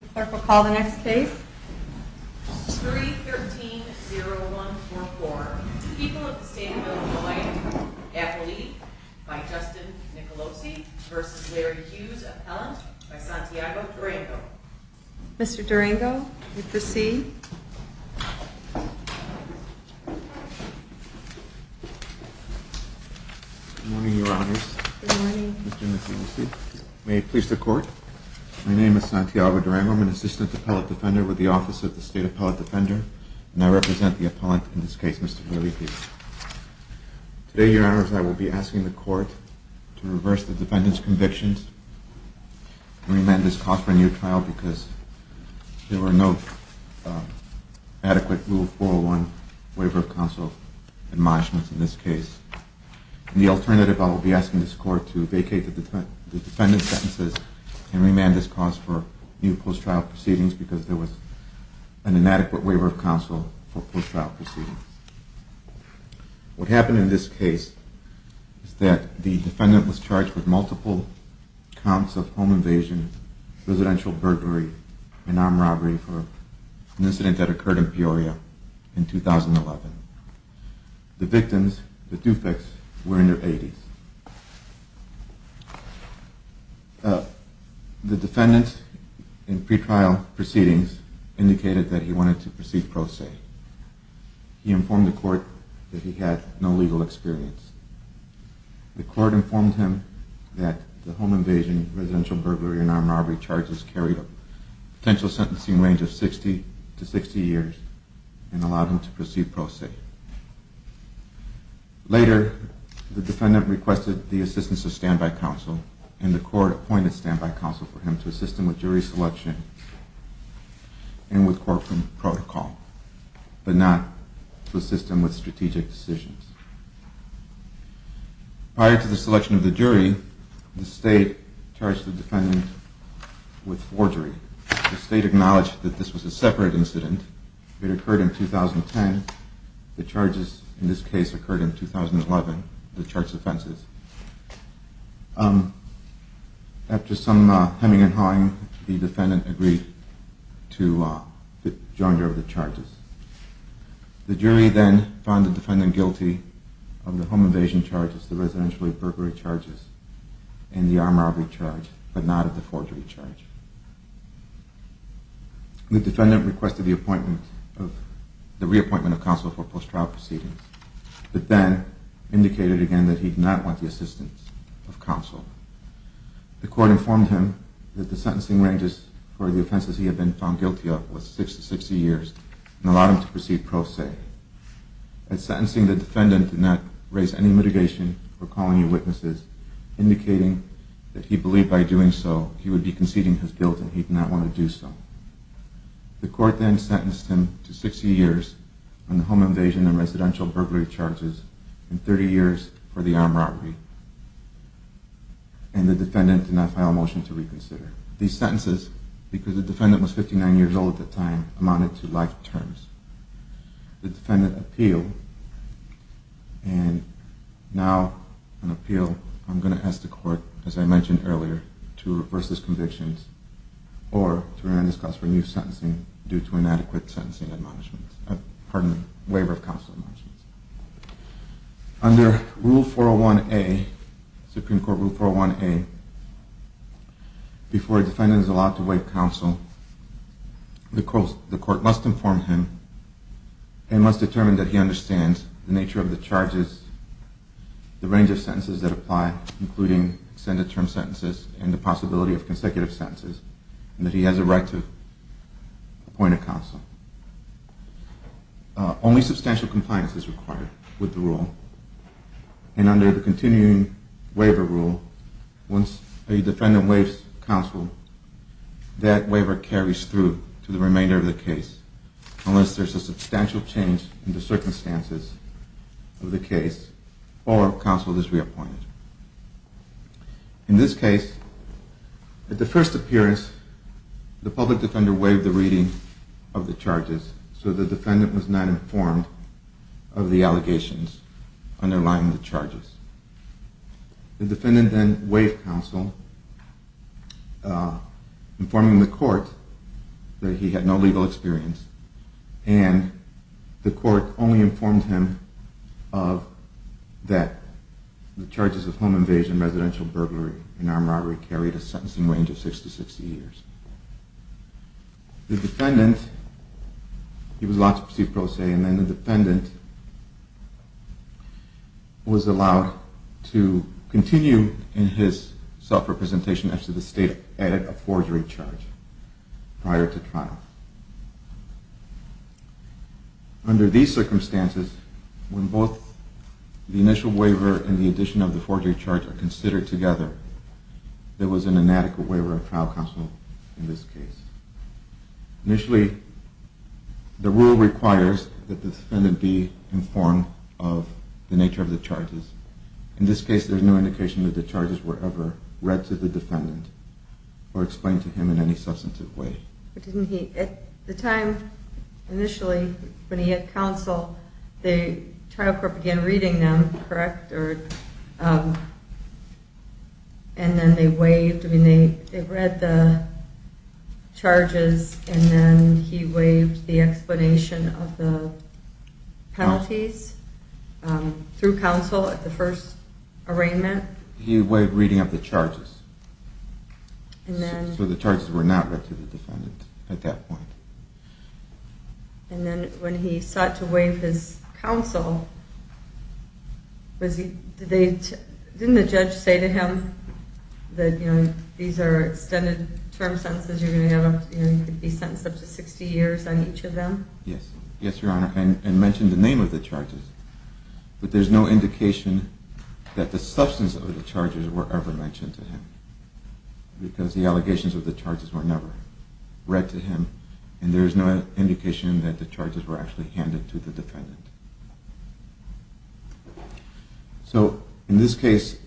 The clerk will call the next case. 313-0144. People of the State of Illinois. Appellee by Justin Nicolosi v. Larry Hughes. Appellant by Santiago Durango. Mr. Durango, you may proceed. Good morning, Your Honors. Good morning. Mr. Nicolosi, may it please the Court. My name is Santiago Durango. I'm an Assistant Appellate Defender with the Office of the State Appellate Defender, and I represent the appellant in this case, Mr. Larry Hughes. Today, Your Honors, I will be asking the Court to reverse the defendant's convictions and remand this cause for a new trial because there were no adequate Rule 401 waiver of counsel admonishments in this case. In the alternative, I will be asking the Court to vacate the defendant's sentences and remand this cause for new post-trial proceedings because there was an inadequate waiver of counsel for post-trial proceedings. What happened in this case is that the defendant was charged with multiple counts of home invasion, residential burglary, and armed robbery for an incident that occurred in Peoria in 2011. The victims, the defects, were in their 80s. The defendant, in pre-trial proceedings, indicated that he wanted to proceed pro se. He informed the Court that he had no legal experience. The Court informed him that the home invasion, residential burglary, and armed robbery charges carried a potential sentencing range of 60 to 60 years and allowed him to proceed pro se. Later, the defendant requested the assistance of standby counsel and the Court appointed standby counsel for him to assist him with jury selection and with courtroom protocol, but not to assist him with strategic decisions. Prior to the selection of the jury, the State charged the defendant with forgery. The State acknowledged that this was a separate incident. It occurred in 2010. The charges in this case occurred in 2011, the charged offenses. After some hemming and hawing, the defendant agreed to join the charges. The jury then found the defendant guilty of the home invasion charges, the residential burglary charges, and the armed robbery charge, but not of the forgery charge. The defendant requested the reappointment of counsel for post-trial proceedings, but then indicated again that he did not want the assistance of counsel. The Court informed him that the sentencing ranges for the offenses he had been found guilty of was 60 to 60 years and allowed him to proceed pro se. At sentencing, the defendant did not raise any mitigation or call any witnesses, indicating that he believed by doing so he would be conceding his guilt and he did not want to do so. The Court then sentenced him to 60 years on the home invasion and residential burglary charges and 30 years for the armed robbery, and the defendant did not file a motion to reconsider. These sentences, because the defendant was 59 years old at the time, amounted to life terms. The defendant appealed, and now on appeal I'm going to ask the Court, as I mentioned earlier, to reverse his convictions or to render this case for new sentencing due to inadequate waiver of counsel admonishments. Under Rule 401A, Supreme Court Rule 401A, before a defendant is allowed to waive counsel, the Court must inform him and must determine that he understands the nature of the charges, the range of sentences that apply, including extended term sentences and the possibility of consecutive sentences, and that he has a right to appoint a counsel. Only substantial compliance is required with the rule, and under the continuing waiver rule, once a defendant waives counsel, that waiver carries through to the remainder of the case unless there is a substantial change in the circumstances of the case or counsel is reappointed. In this case, at the first appearance, the public defender waived the reading of the charges, so the defendant was not informed of the allegations underlying the charges. The defendant then waived counsel, informing the Court that he had no legal experience, and the Court only informed him that the charges of home invasion, residential burglary, and armed robbery carried a sentencing range of six to 60 years. The defendant, he was allowed to proceed pro se, and then the defendant was allowed to continue in his self-representation after the State added a forgery charge prior to trial. Under these circumstances, when both the initial waiver and the addition of the forgery charge are considered together, there was an inadequate waiver of trial counsel in this case. Initially, the rule requires that the defendant be informed of the nature of the charges. In this case, there is no indication that the charges were ever read to the defendant or explained to him in any substantive way. At the time, initially, when he had counsel, the trial court began reading them, correct? And then they read the charges and then he waived the explanation of the penalties through counsel at the first arraignment? He waived reading of the charges, so the charges were not read to the defendant at that point. And then when he sought to waive his counsel, didn't the judge say to him that these are extended term sentences, you could be sentenced up to 60 years on each of them? Yes, Your Honor, and mention the name of the charges. But there's no indication that the substance of the charges were ever mentioned to him because the allegations of the charges were never read to him and there's no indication that the charges were actually handed to the defendant. So in this case,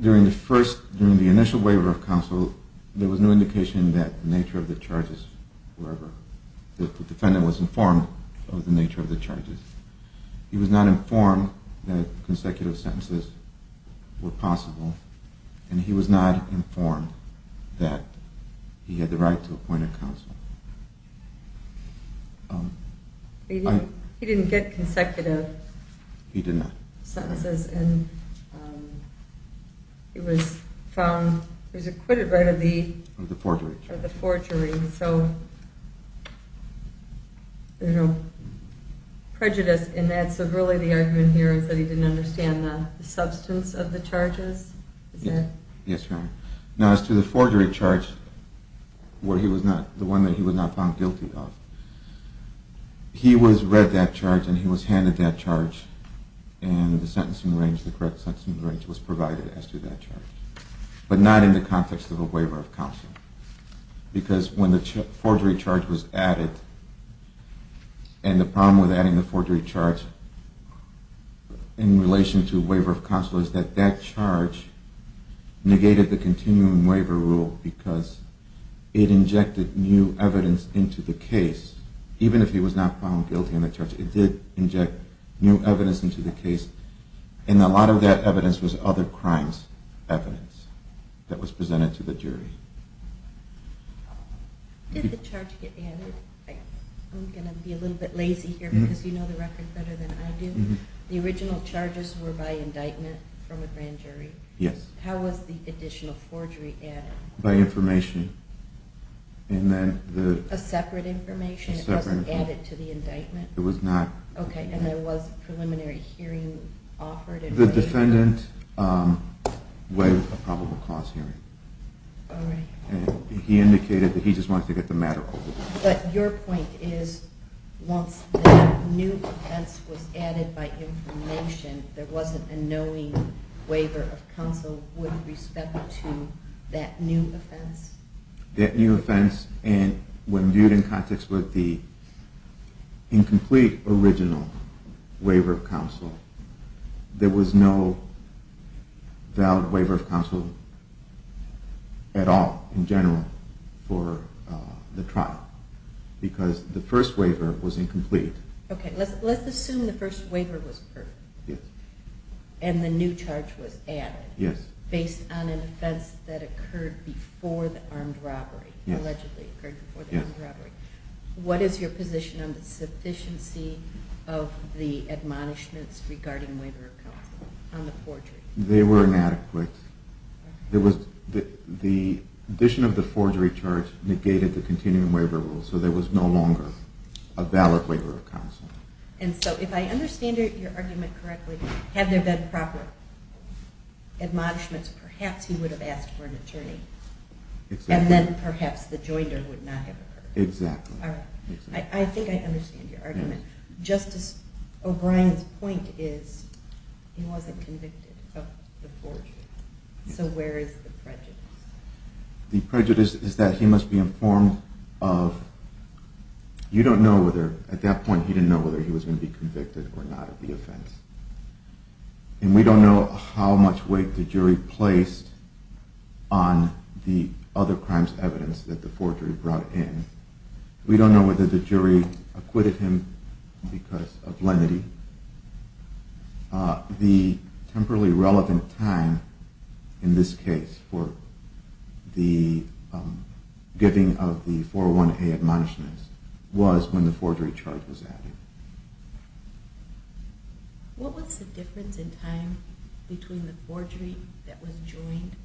during the initial waiver of counsel, there was no indication that the nature of the charges were ever, the defendant was informed of the nature of the charges. He was not informed that consecutive sentences were possible and he was not informed that he had the right to appoint a counsel. He didn't get consecutive sentences and he was found, he was acquitted right of the forgery. So there's no prejudice in that, so really the argument here is that he didn't understand the substance of the charges? Yes, Your Honor. Now as to the forgery charge, the one that he was not found guilty of, he was read that charge and he was handed that charge and the correct sentencing range was provided as to that charge. But not in the context of a waiver of counsel because when the forgery charge was added, and the problem with adding the forgery charge in relation to waiver of counsel is that that charge negated the continuing waiver rule because it injected new evidence into the case, even if he was not found guilty in the charge, it did inject new evidence into the case and a lot of that evidence was other crimes evidence that was presented to the jury. Did the charge get added? I'm going to be a little bit lazy here because you know the record better than I do. The original charges were by indictment from a grand jury? Yes. How was the additional forgery added? By information. A separate information? It wasn't added to the indictment? Okay, and there was preliminary hearing offered? The defendant waived the probable cause hearing. He indicated that he just wanted to get the matter over with. But your point is once that new offense was added by information, there wasn't a knowing waiver of counsel with respect to that new offense? That new offense, and when viewed in context with the incomplete original waiver of counsel, there was no valid waiver of counsel at all in general for the trial because the first waiver was incomplete. Okay, let's assume the first waiver was perfect and the new charge was added based on an offense that occurred before the armed robbery. What is your position on the sufficiency of the admonishments regarding waiver of counsel on the forgery? They were inadequate. The addition of the forgery charge negated the continuing waiver rule, so there was no longer a valid waiver of counsel. And so if I understand your argument correctly, had there been proper admonishments, perhaps he would have asked for an attorney, and then perhaps the joinder would not have occurred. I think I understand your argument. Justice O'Brien's point is he wasn't convicted of the forgery, so where is the prejudice? The prejudice is that he must be informed of, you don't know whether, at that point he didn't know whether he was going to be convicted or not of the offense. And we don't know how much weight the jury placed on the other crimes evidence that the forgery brought in. We don't know whether the jury acquitted him because of lenity. The temporally relevant time in this case for the giving of the 401A admonishments was when the forgery charge was added. What was the difference in time between the forgery that was joined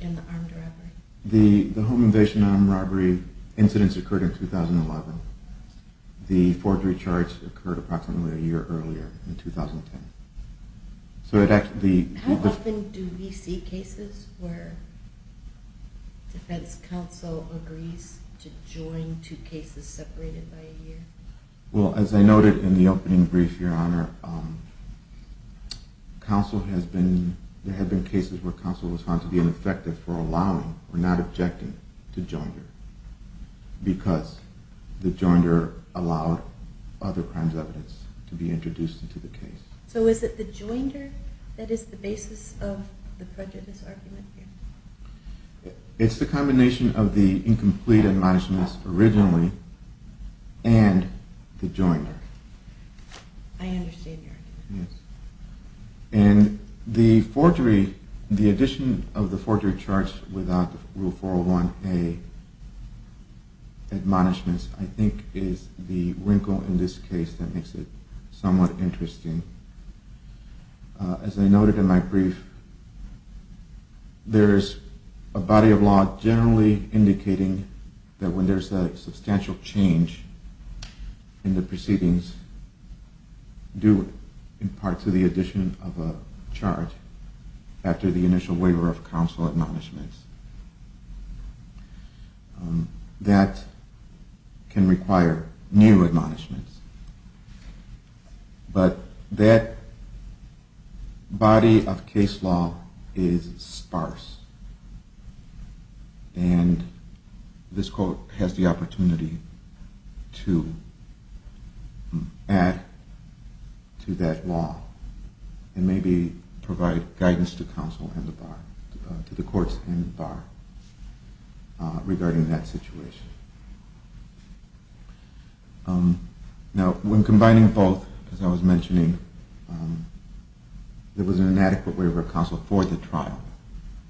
and the armed robbery? The home invasion and armed robbery incidents occurred in 2011. The forgery charge occurred approximately a year earlier in 2010. How often do we see cases where defense counsel agrees to join two cases separated by a year? Well, as I noted in the opening brief, your honor, there have been cases where counsel was found to be ineffective for allowing or not objecting to join because the joinder allowed other crimes evidence to be introduced into the case. So is it the joinder that is the basis of the prejudice argument here? It's the combination of the incomplete admonishments originally and the joinder. I understand your argument. And the forgery, the addition of the forgery charge without the 401A admonishments I think is the wrinkle in this case that makes it somewhat interesting. As I noted in my brief, there is a body of law generally indicating that when there is a substantial change in the proceedings due in part to the addition of a charge after the initial waiver of counsel admonishments. That can require new admonishments. But that body of case law is sparse. And this court has the opportunity to add to that law and maybe provide guidance to counsel and the bar, to the courts and the bar regarding that situation. Now, when combining both, as I was mentioning, there was an inadequate waiver of counsel for the trial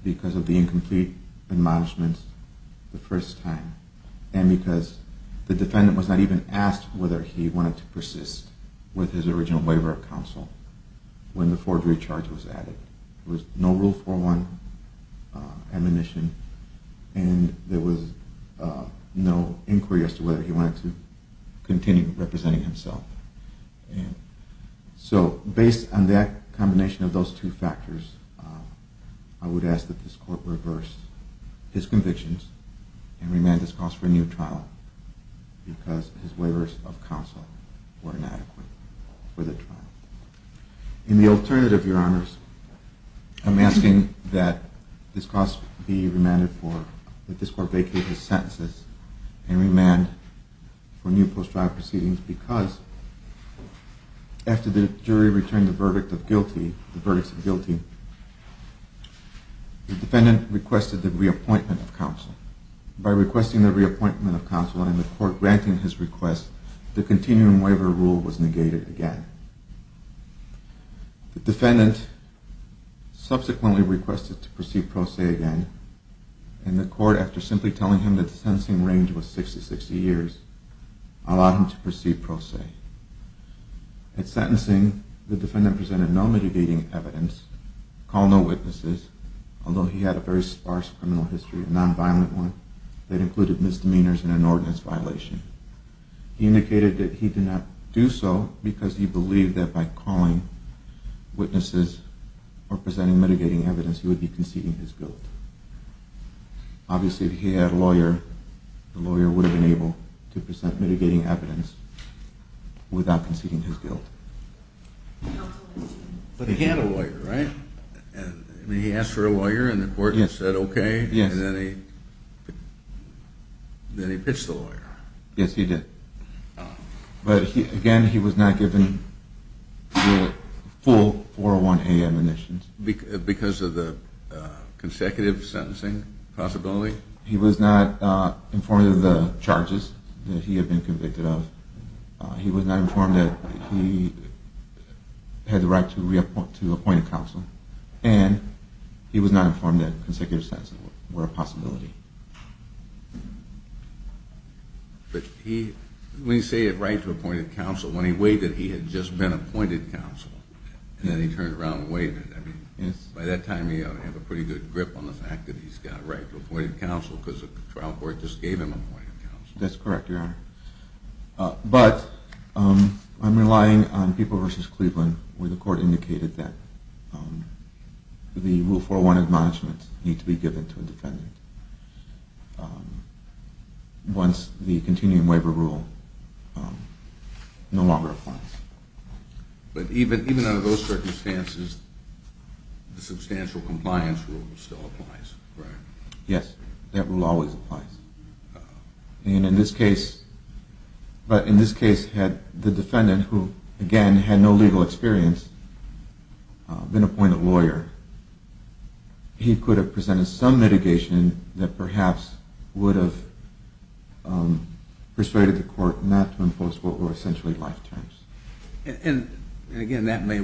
because of the incomplete admonishments the first time. And because the defendant was not even asked whether he wanted to persist with his original waiver of counsel when the forgery charge was added. There was no Rule 401 admonition and there was no inquiry as to whether he wanted to continue representing himself. And so based on that combination of those two factors, I would ask that this court reverse his convictions and remand his cause for a new trial because his waivers of counsel were inadequate for the trial. In the alternative, Your Honors, I'm asking that this cause be remanded for, that this court vacate his sentences and remand for new post-trial proceedings because after the jury returned the verdict of guilty, the verdicts of guilty, the defendant requested the reappointment of counsel. By requesting the reappointment of counsel and the court granting his request, the continuum waiver rule was negated again. The defendant subsequently requested to proceed pro se again and the court, after simply telling him that the sentencing range was 60-60 years, allowed him to proceed pro se. At sentencing, the defendant presented no mitigating evidence, called no witnesses, although he had a very sparse criminal history, a nonviolent one, that included misdemeanors and an ordinance violation. He indicated that he did not do so because he believed that by calling witnesses or presenting mitigating evidence he would be conceding his guilt. Obviously, if he had a lawyer, the lawyer would have been able to present mitigating evidence without conceding his guilt. But he had a lawyer, right? He asked for a lawyer and the court said okay and then he pitched the lawyer. Yes, he did. But again, he was not given full 401A admonitions. Because of the consecutive sentencing possibility? He was not informed of the charges that he had been convicted of. He was not informed that he had the right to reappoint a counsel. And he was not informed that consecutive sentences were a possibility. But he, when he said he had the right to appoint a counsel, when he waived it, he had just been appointed counsel and then he turned around and waived it. Yes. By that time he had a pretty good grip on the fact that he's got the right to appoint a counsel because the trial court just gave him appointed counsel. That's correct, your honor. But I'm relying on People v. Cleveland where the court indicated that the rule 401 admonishments need to be given to a defendant. Once the continuing waiver rule no longer applies. But even under those circumstances the substantial compliance rule still applies, correct? Yes, that rule always applies. And in this case, but in this case had the defendant, who again had no legal experience, been appointed lawyer, he could have presented some mitigation that perhaps would have persuaded the court not to impose what were essentially life terms. And again, that may,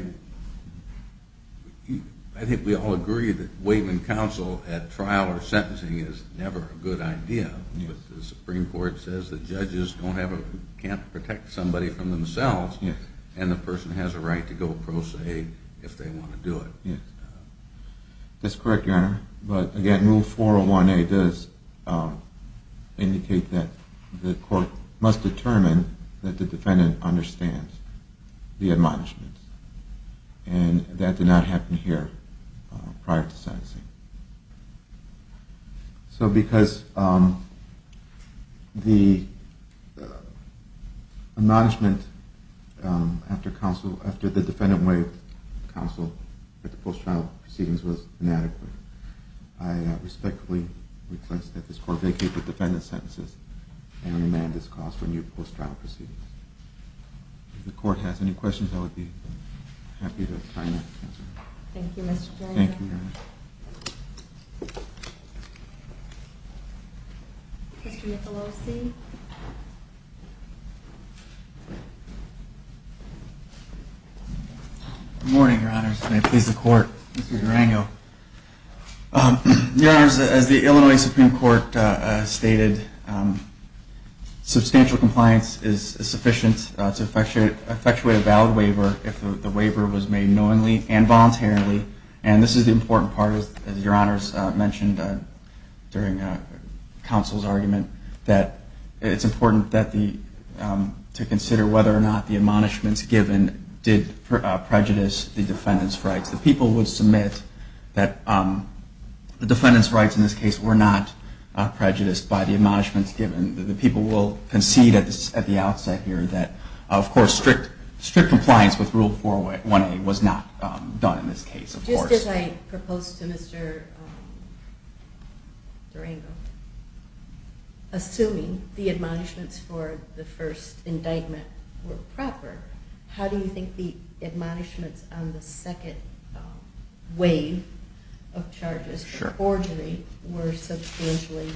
I think we all agree that waiving counsel at trial or sentencing is never a good idea, but the Supreme Court says the judges can't protect somebody from themselves and the person has a right to go pro se if they want to do it. That's correct, your honor. But again, rule 401A does indicate that the court must determine that the defendant understands the admonishments and that did not happen here prior to sentencing. So because the admonishment after the defendant waived counsel at the post-trial proceedings was inadequate, I respectfully request that this court vacate the defendant's sentences and remand this cause for new post-trial proceedings. If the court has any questions, I would be happy to try and answer them. Thank you, Mr. Durango. Thank you, your honor. Mr. Michelosi. Good morning, your honors. May it please the court, Mr. Durango. Your honors, as the Illinois Supreme Court stated, substantial compliance is sufficient to effectuate a valid waiver if the waiver was made knowingly and voluntarily. And this is the important part, as your honors mentioned during counsel's argument, that it's important to consider whether or not the admonishments given did prejudice the defendant's rights. The people would submit that the defendant's rights in this case were not prejudiced by the admonishments given. The people will concede at the outset here that, of course, strict compliance with rule 401A was not done in this case, of course. Just as I proposed to Mr. Durango, assuming the admonishments for the first indictment were proper, how do you think the admonishments on the second wave of charges, the forgery, were substantially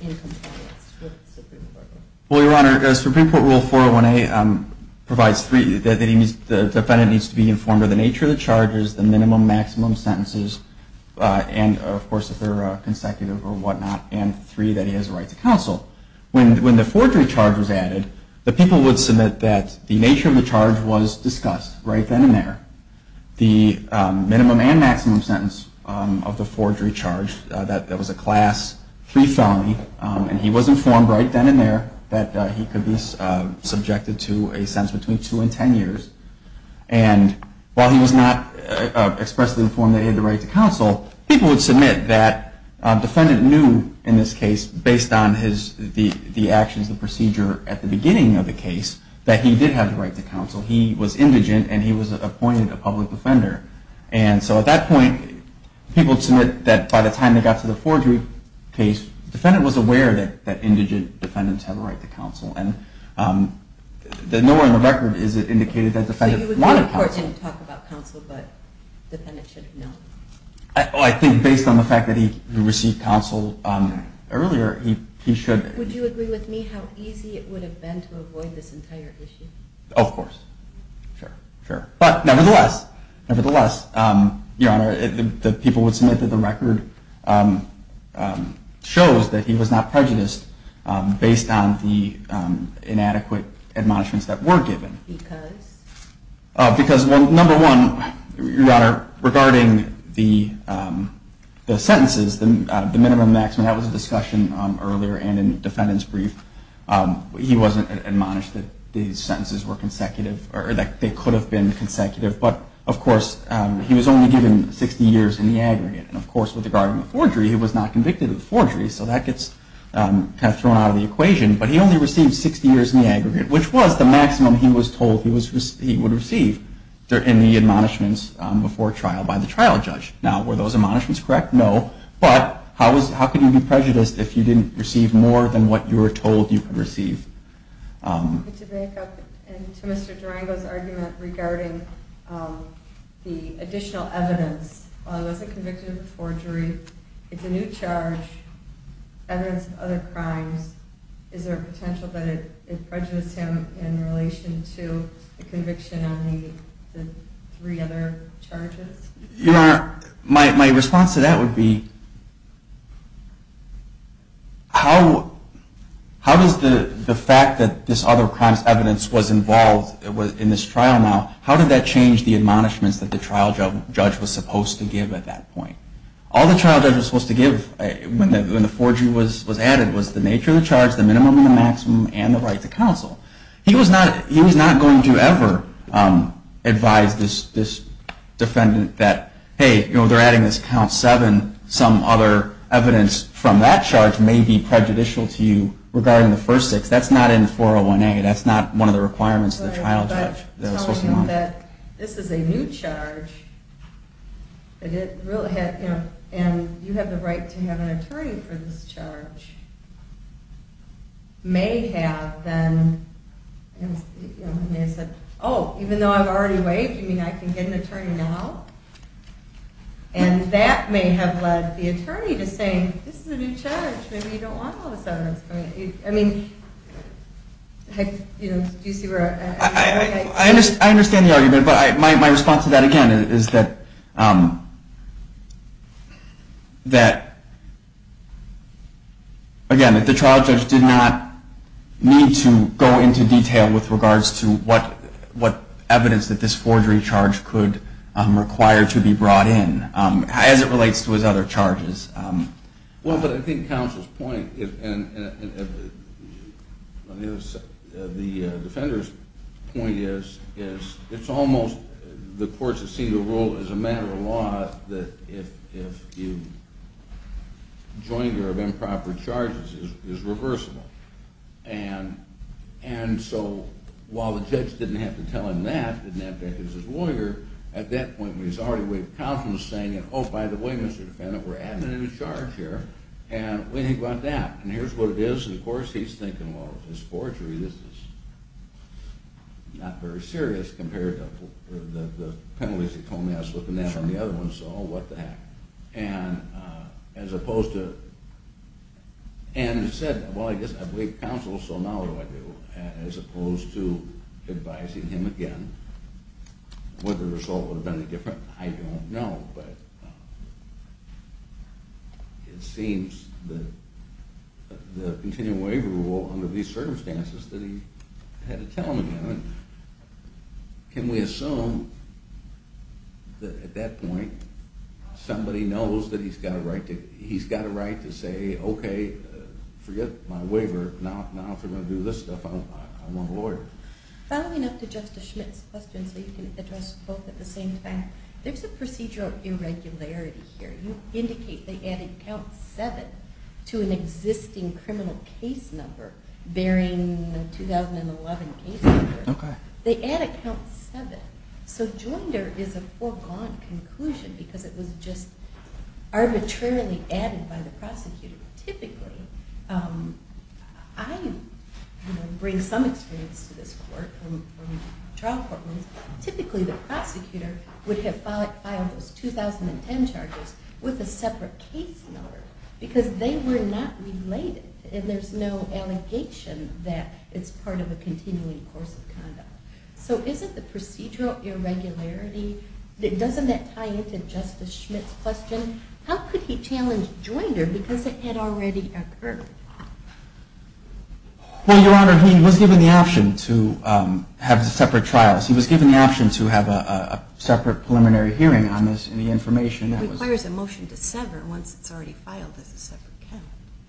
in compliance with Supreme Court rule? Well, your honor, Supreme Court rule 401A provides three, that the defendant needs to be informed of the nature of the charges, the minimum, maximum sentences, and of course, if they're consecutive or whatnot, and three, that he has a right to counsel. When the forgery charge was added, the people would submit that the nature of the charge was discussed right then and there. The minimum and maximum sentence of the forgery charge, that was a class three felony, and he was informed right then and there that he could be subjected to a sentence between two and ten years. And while he was not expressly informed that he had the right to counsel, people would submit that the defendant knew in this case, based on the actions, the procedure at the beginning of the case, that he did have the right to counsel. He was indigent, and he was appointed a public defender. And so at that point, people submit that by the time they got to the forgery case, the defendant was aware that indigent defendants have a right to counsel. And nowhere in the record is it indicated that the defendant wanted counsel. So you would think the court didn't talk about counsel, but the defendant should have known. I think based on the fact that he received counsel earlier, he should. Would you agree with me how easy it would have been to avoid this entire issue? Of course. Sure, sure. But nevertheless, nevertheless, Your Honor, the people would submit that the record shows that he was not prejudiced based on the inadequate admonishments that were given. Because? Because, well, number one, Your Honor, regarding the sentences, the minimum and maximum, that was a discussion earlier and in the defendant's brief. He wasn't admonished that these sentences were consecutive or that they could have been consecutive. But, of course, he was only given 60 years in the aggregate. And, of course, with regard to the forgery, he was not convicted of the forgery. So that gets kind of thrown out of the equation. But he only received 60 years in the aggregate, which was the maximum he was told he would receive in the admonishments before trial by the trial judge. Now, were those admonishments correct? No. But how can you be prejudiced if you didn't receive more than what you were told you could receive? To make up to Mr. Durango's argument regarding the additional evidence, while he wasn't convicted of the forgery, it's a new charge, evidence of other crimes. Is there a potential that it prejudiced him in relation to the conviction on the three other charges? Your Honor, my response to that would be, how does the fact that this other crimes evidence was involved in this trial now, how did that change the admonishments that the trial judge was supposed to give at that point? All the trial judge was supposed to give when the forgery was added was the nature of the charge, the minimum and the maximum, and the right to counsel. He was not going to ever advise this defendant that, hey, they're adding this count seven. Some other evidence from that charge may be prejudicial to you regarding the first six. That's not in 401A. That's not one of the requirements of the trial judge. This is a new charge, and you have the right to have an attorney for this charge. May have then, oh, even though I've already waived, you mean I can get an attorney now? And that may have led the attorney to say, this is a new charge, maybe you don't want all this evidence. I mean, do you see where I'm going? I understand the argument, but my response to that again is that, again, the trial judge did not need to go into detail with regards to what evidence that this forgery charge could require to be brought in as it relates to his other charges. Well, but I think counsel's point, and the defender's point is, it's almost the courts have seen the rule as a matter of law that if you join your improper charges, it's reversible. And so while the judge didn't have to tell him that, didn't have to act as his lawyer, at that point he's already waived the counsel and is saying, oh, by the way, Mr. Defendant, we're adding a new charge here, and what do you think about that? And here's what it is, and of course he's thinking, well, this forgery, this is not very serious compared to the penalties he told me I was looking at on the other one, so what the heck. And as opposed to, and he said, well, I guess I've waived counsel, so now what do I do? As opposed to advising him again, whether the result would have been any different, I don't know. But it seems that the continuing waiver rule under these circumstances that he had to tell him again, can we assume that at that point somebody knows that he's got a right to say, okay, forget my waiver, now if they're going to do this stuff, I want a lawyer. Following up to Justice Schmidt's question, so you can address both at the same time, there's a procedure of irregularity here. You indicate they added count 7 to an existing criminal case number bearing the 2011 case number. They added count 7, so Joinder is a foregone conclusion because it was just arbitrarily added by the prosecutor. Typically, I bring some experience to this court from trial courtrooms, typically the prosecutor would have filed those 2010 charges with a separate case number because they were not related and there's no allegation that it's part of a continuing course of conduct. So isn't the procedural irregularity, doesn't that tie into Justice Schmidt's question? How could he challenge Joinder because it had already occurred? Well, Your Honor, he was given the option to have separate trials. He was given the option to have a separate preliminary hearing on this and the information that was… It requires a motion to sever once it's already filed as a separate count.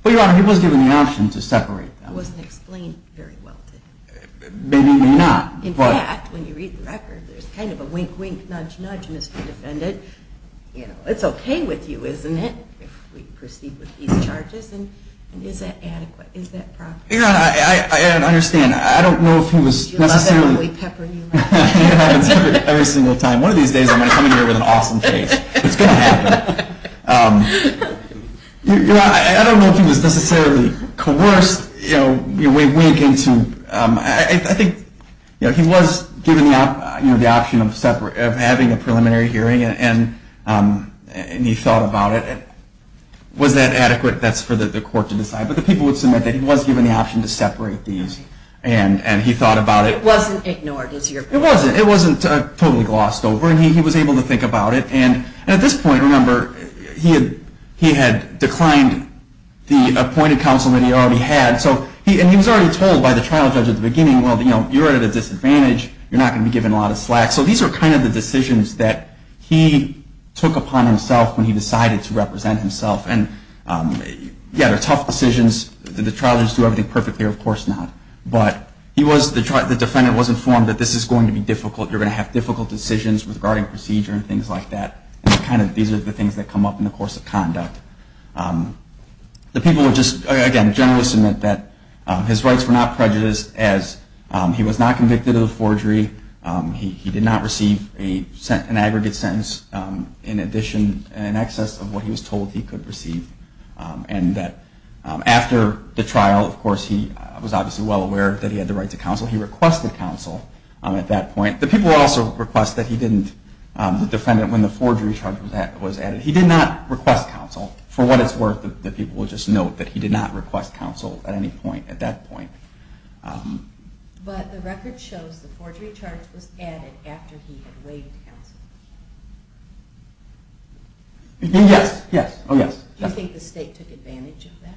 Well, Your Honor, he was given the option to separate them. It wasn't explained very well to him. In fact, when you read the record, there's kind of a wink, wink, nudge, nudge, Mr. Defendant. It's okay with you, isn't it, if we proceed with these charges? And is that adequate? Is that proper? Your Honor, I understand. I don't know if he was necessarily… You're not going to leave pepper in your mouth. It happens every single time. One of these days, I'm going to come in here with an awesome face. It's going to happen. Your Honor, I don't know if he was necessarily coerced way weak into… I think he was given the option of having a preliminary hearing and he thought about it. Was that adequate? That's for the court to decide. But the people would submit that he was given the option to separate these and he thought about it. It wasn't ignored, is your opinion? It wasn't. It wasn't totally glossed over and he was able to think about it. And at this point, remember, he had declined the appointed counsel that he already had. And he was already told by the trial judge at the beginning, well, you're at a disadvantage. You're not going to be given a lot of slack. So these are kind of the decisions that he took upon himself when he decided to represent himself. And yeah, they're tough decisions. Did the trial judge do everything perfectly? Of course not. But the defendant was informed that this is going to be difficult. You're going to have difficult decisions regarding procedure and things like that. And these are the things that come up in the course of conduct. The people would just, again, generally submit that his rights were not prejudiced as he was not convicted of the forgery. He did not receive an aggregate sentence in addition, in excess of what he was told he could receive. And that after the trial, of course, he was obviously well aware that he had the right to counsel. He requested counsel at that point. The people also request that he didn't, the defendant, when the forgery charge was added, he did not request counsel. For what it's worth, the people will just note that he did not request counsel at any point at that point. But the record shows the forgery charge was added after he had waived counsel. Yes, yes. Do you think the state took advantage of that?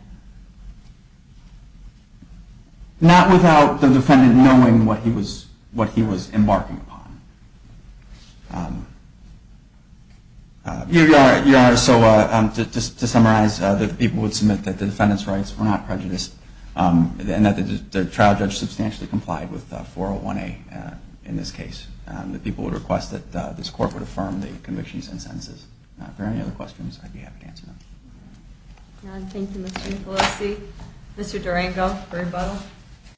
Not without the defendant knowing what he was embarking upon. Your Honor, so just to summarize, the people would submit that the defendant's rights were not prejudiced, and that the trial judge substantially complied with 401A in this case. The people would request that this Court would affirm the convictions and sentences. If there are any other questions, I'd be happy to answer them. None. Thank you, Mr. Nicolosi. Mr. Durango for rebuttal.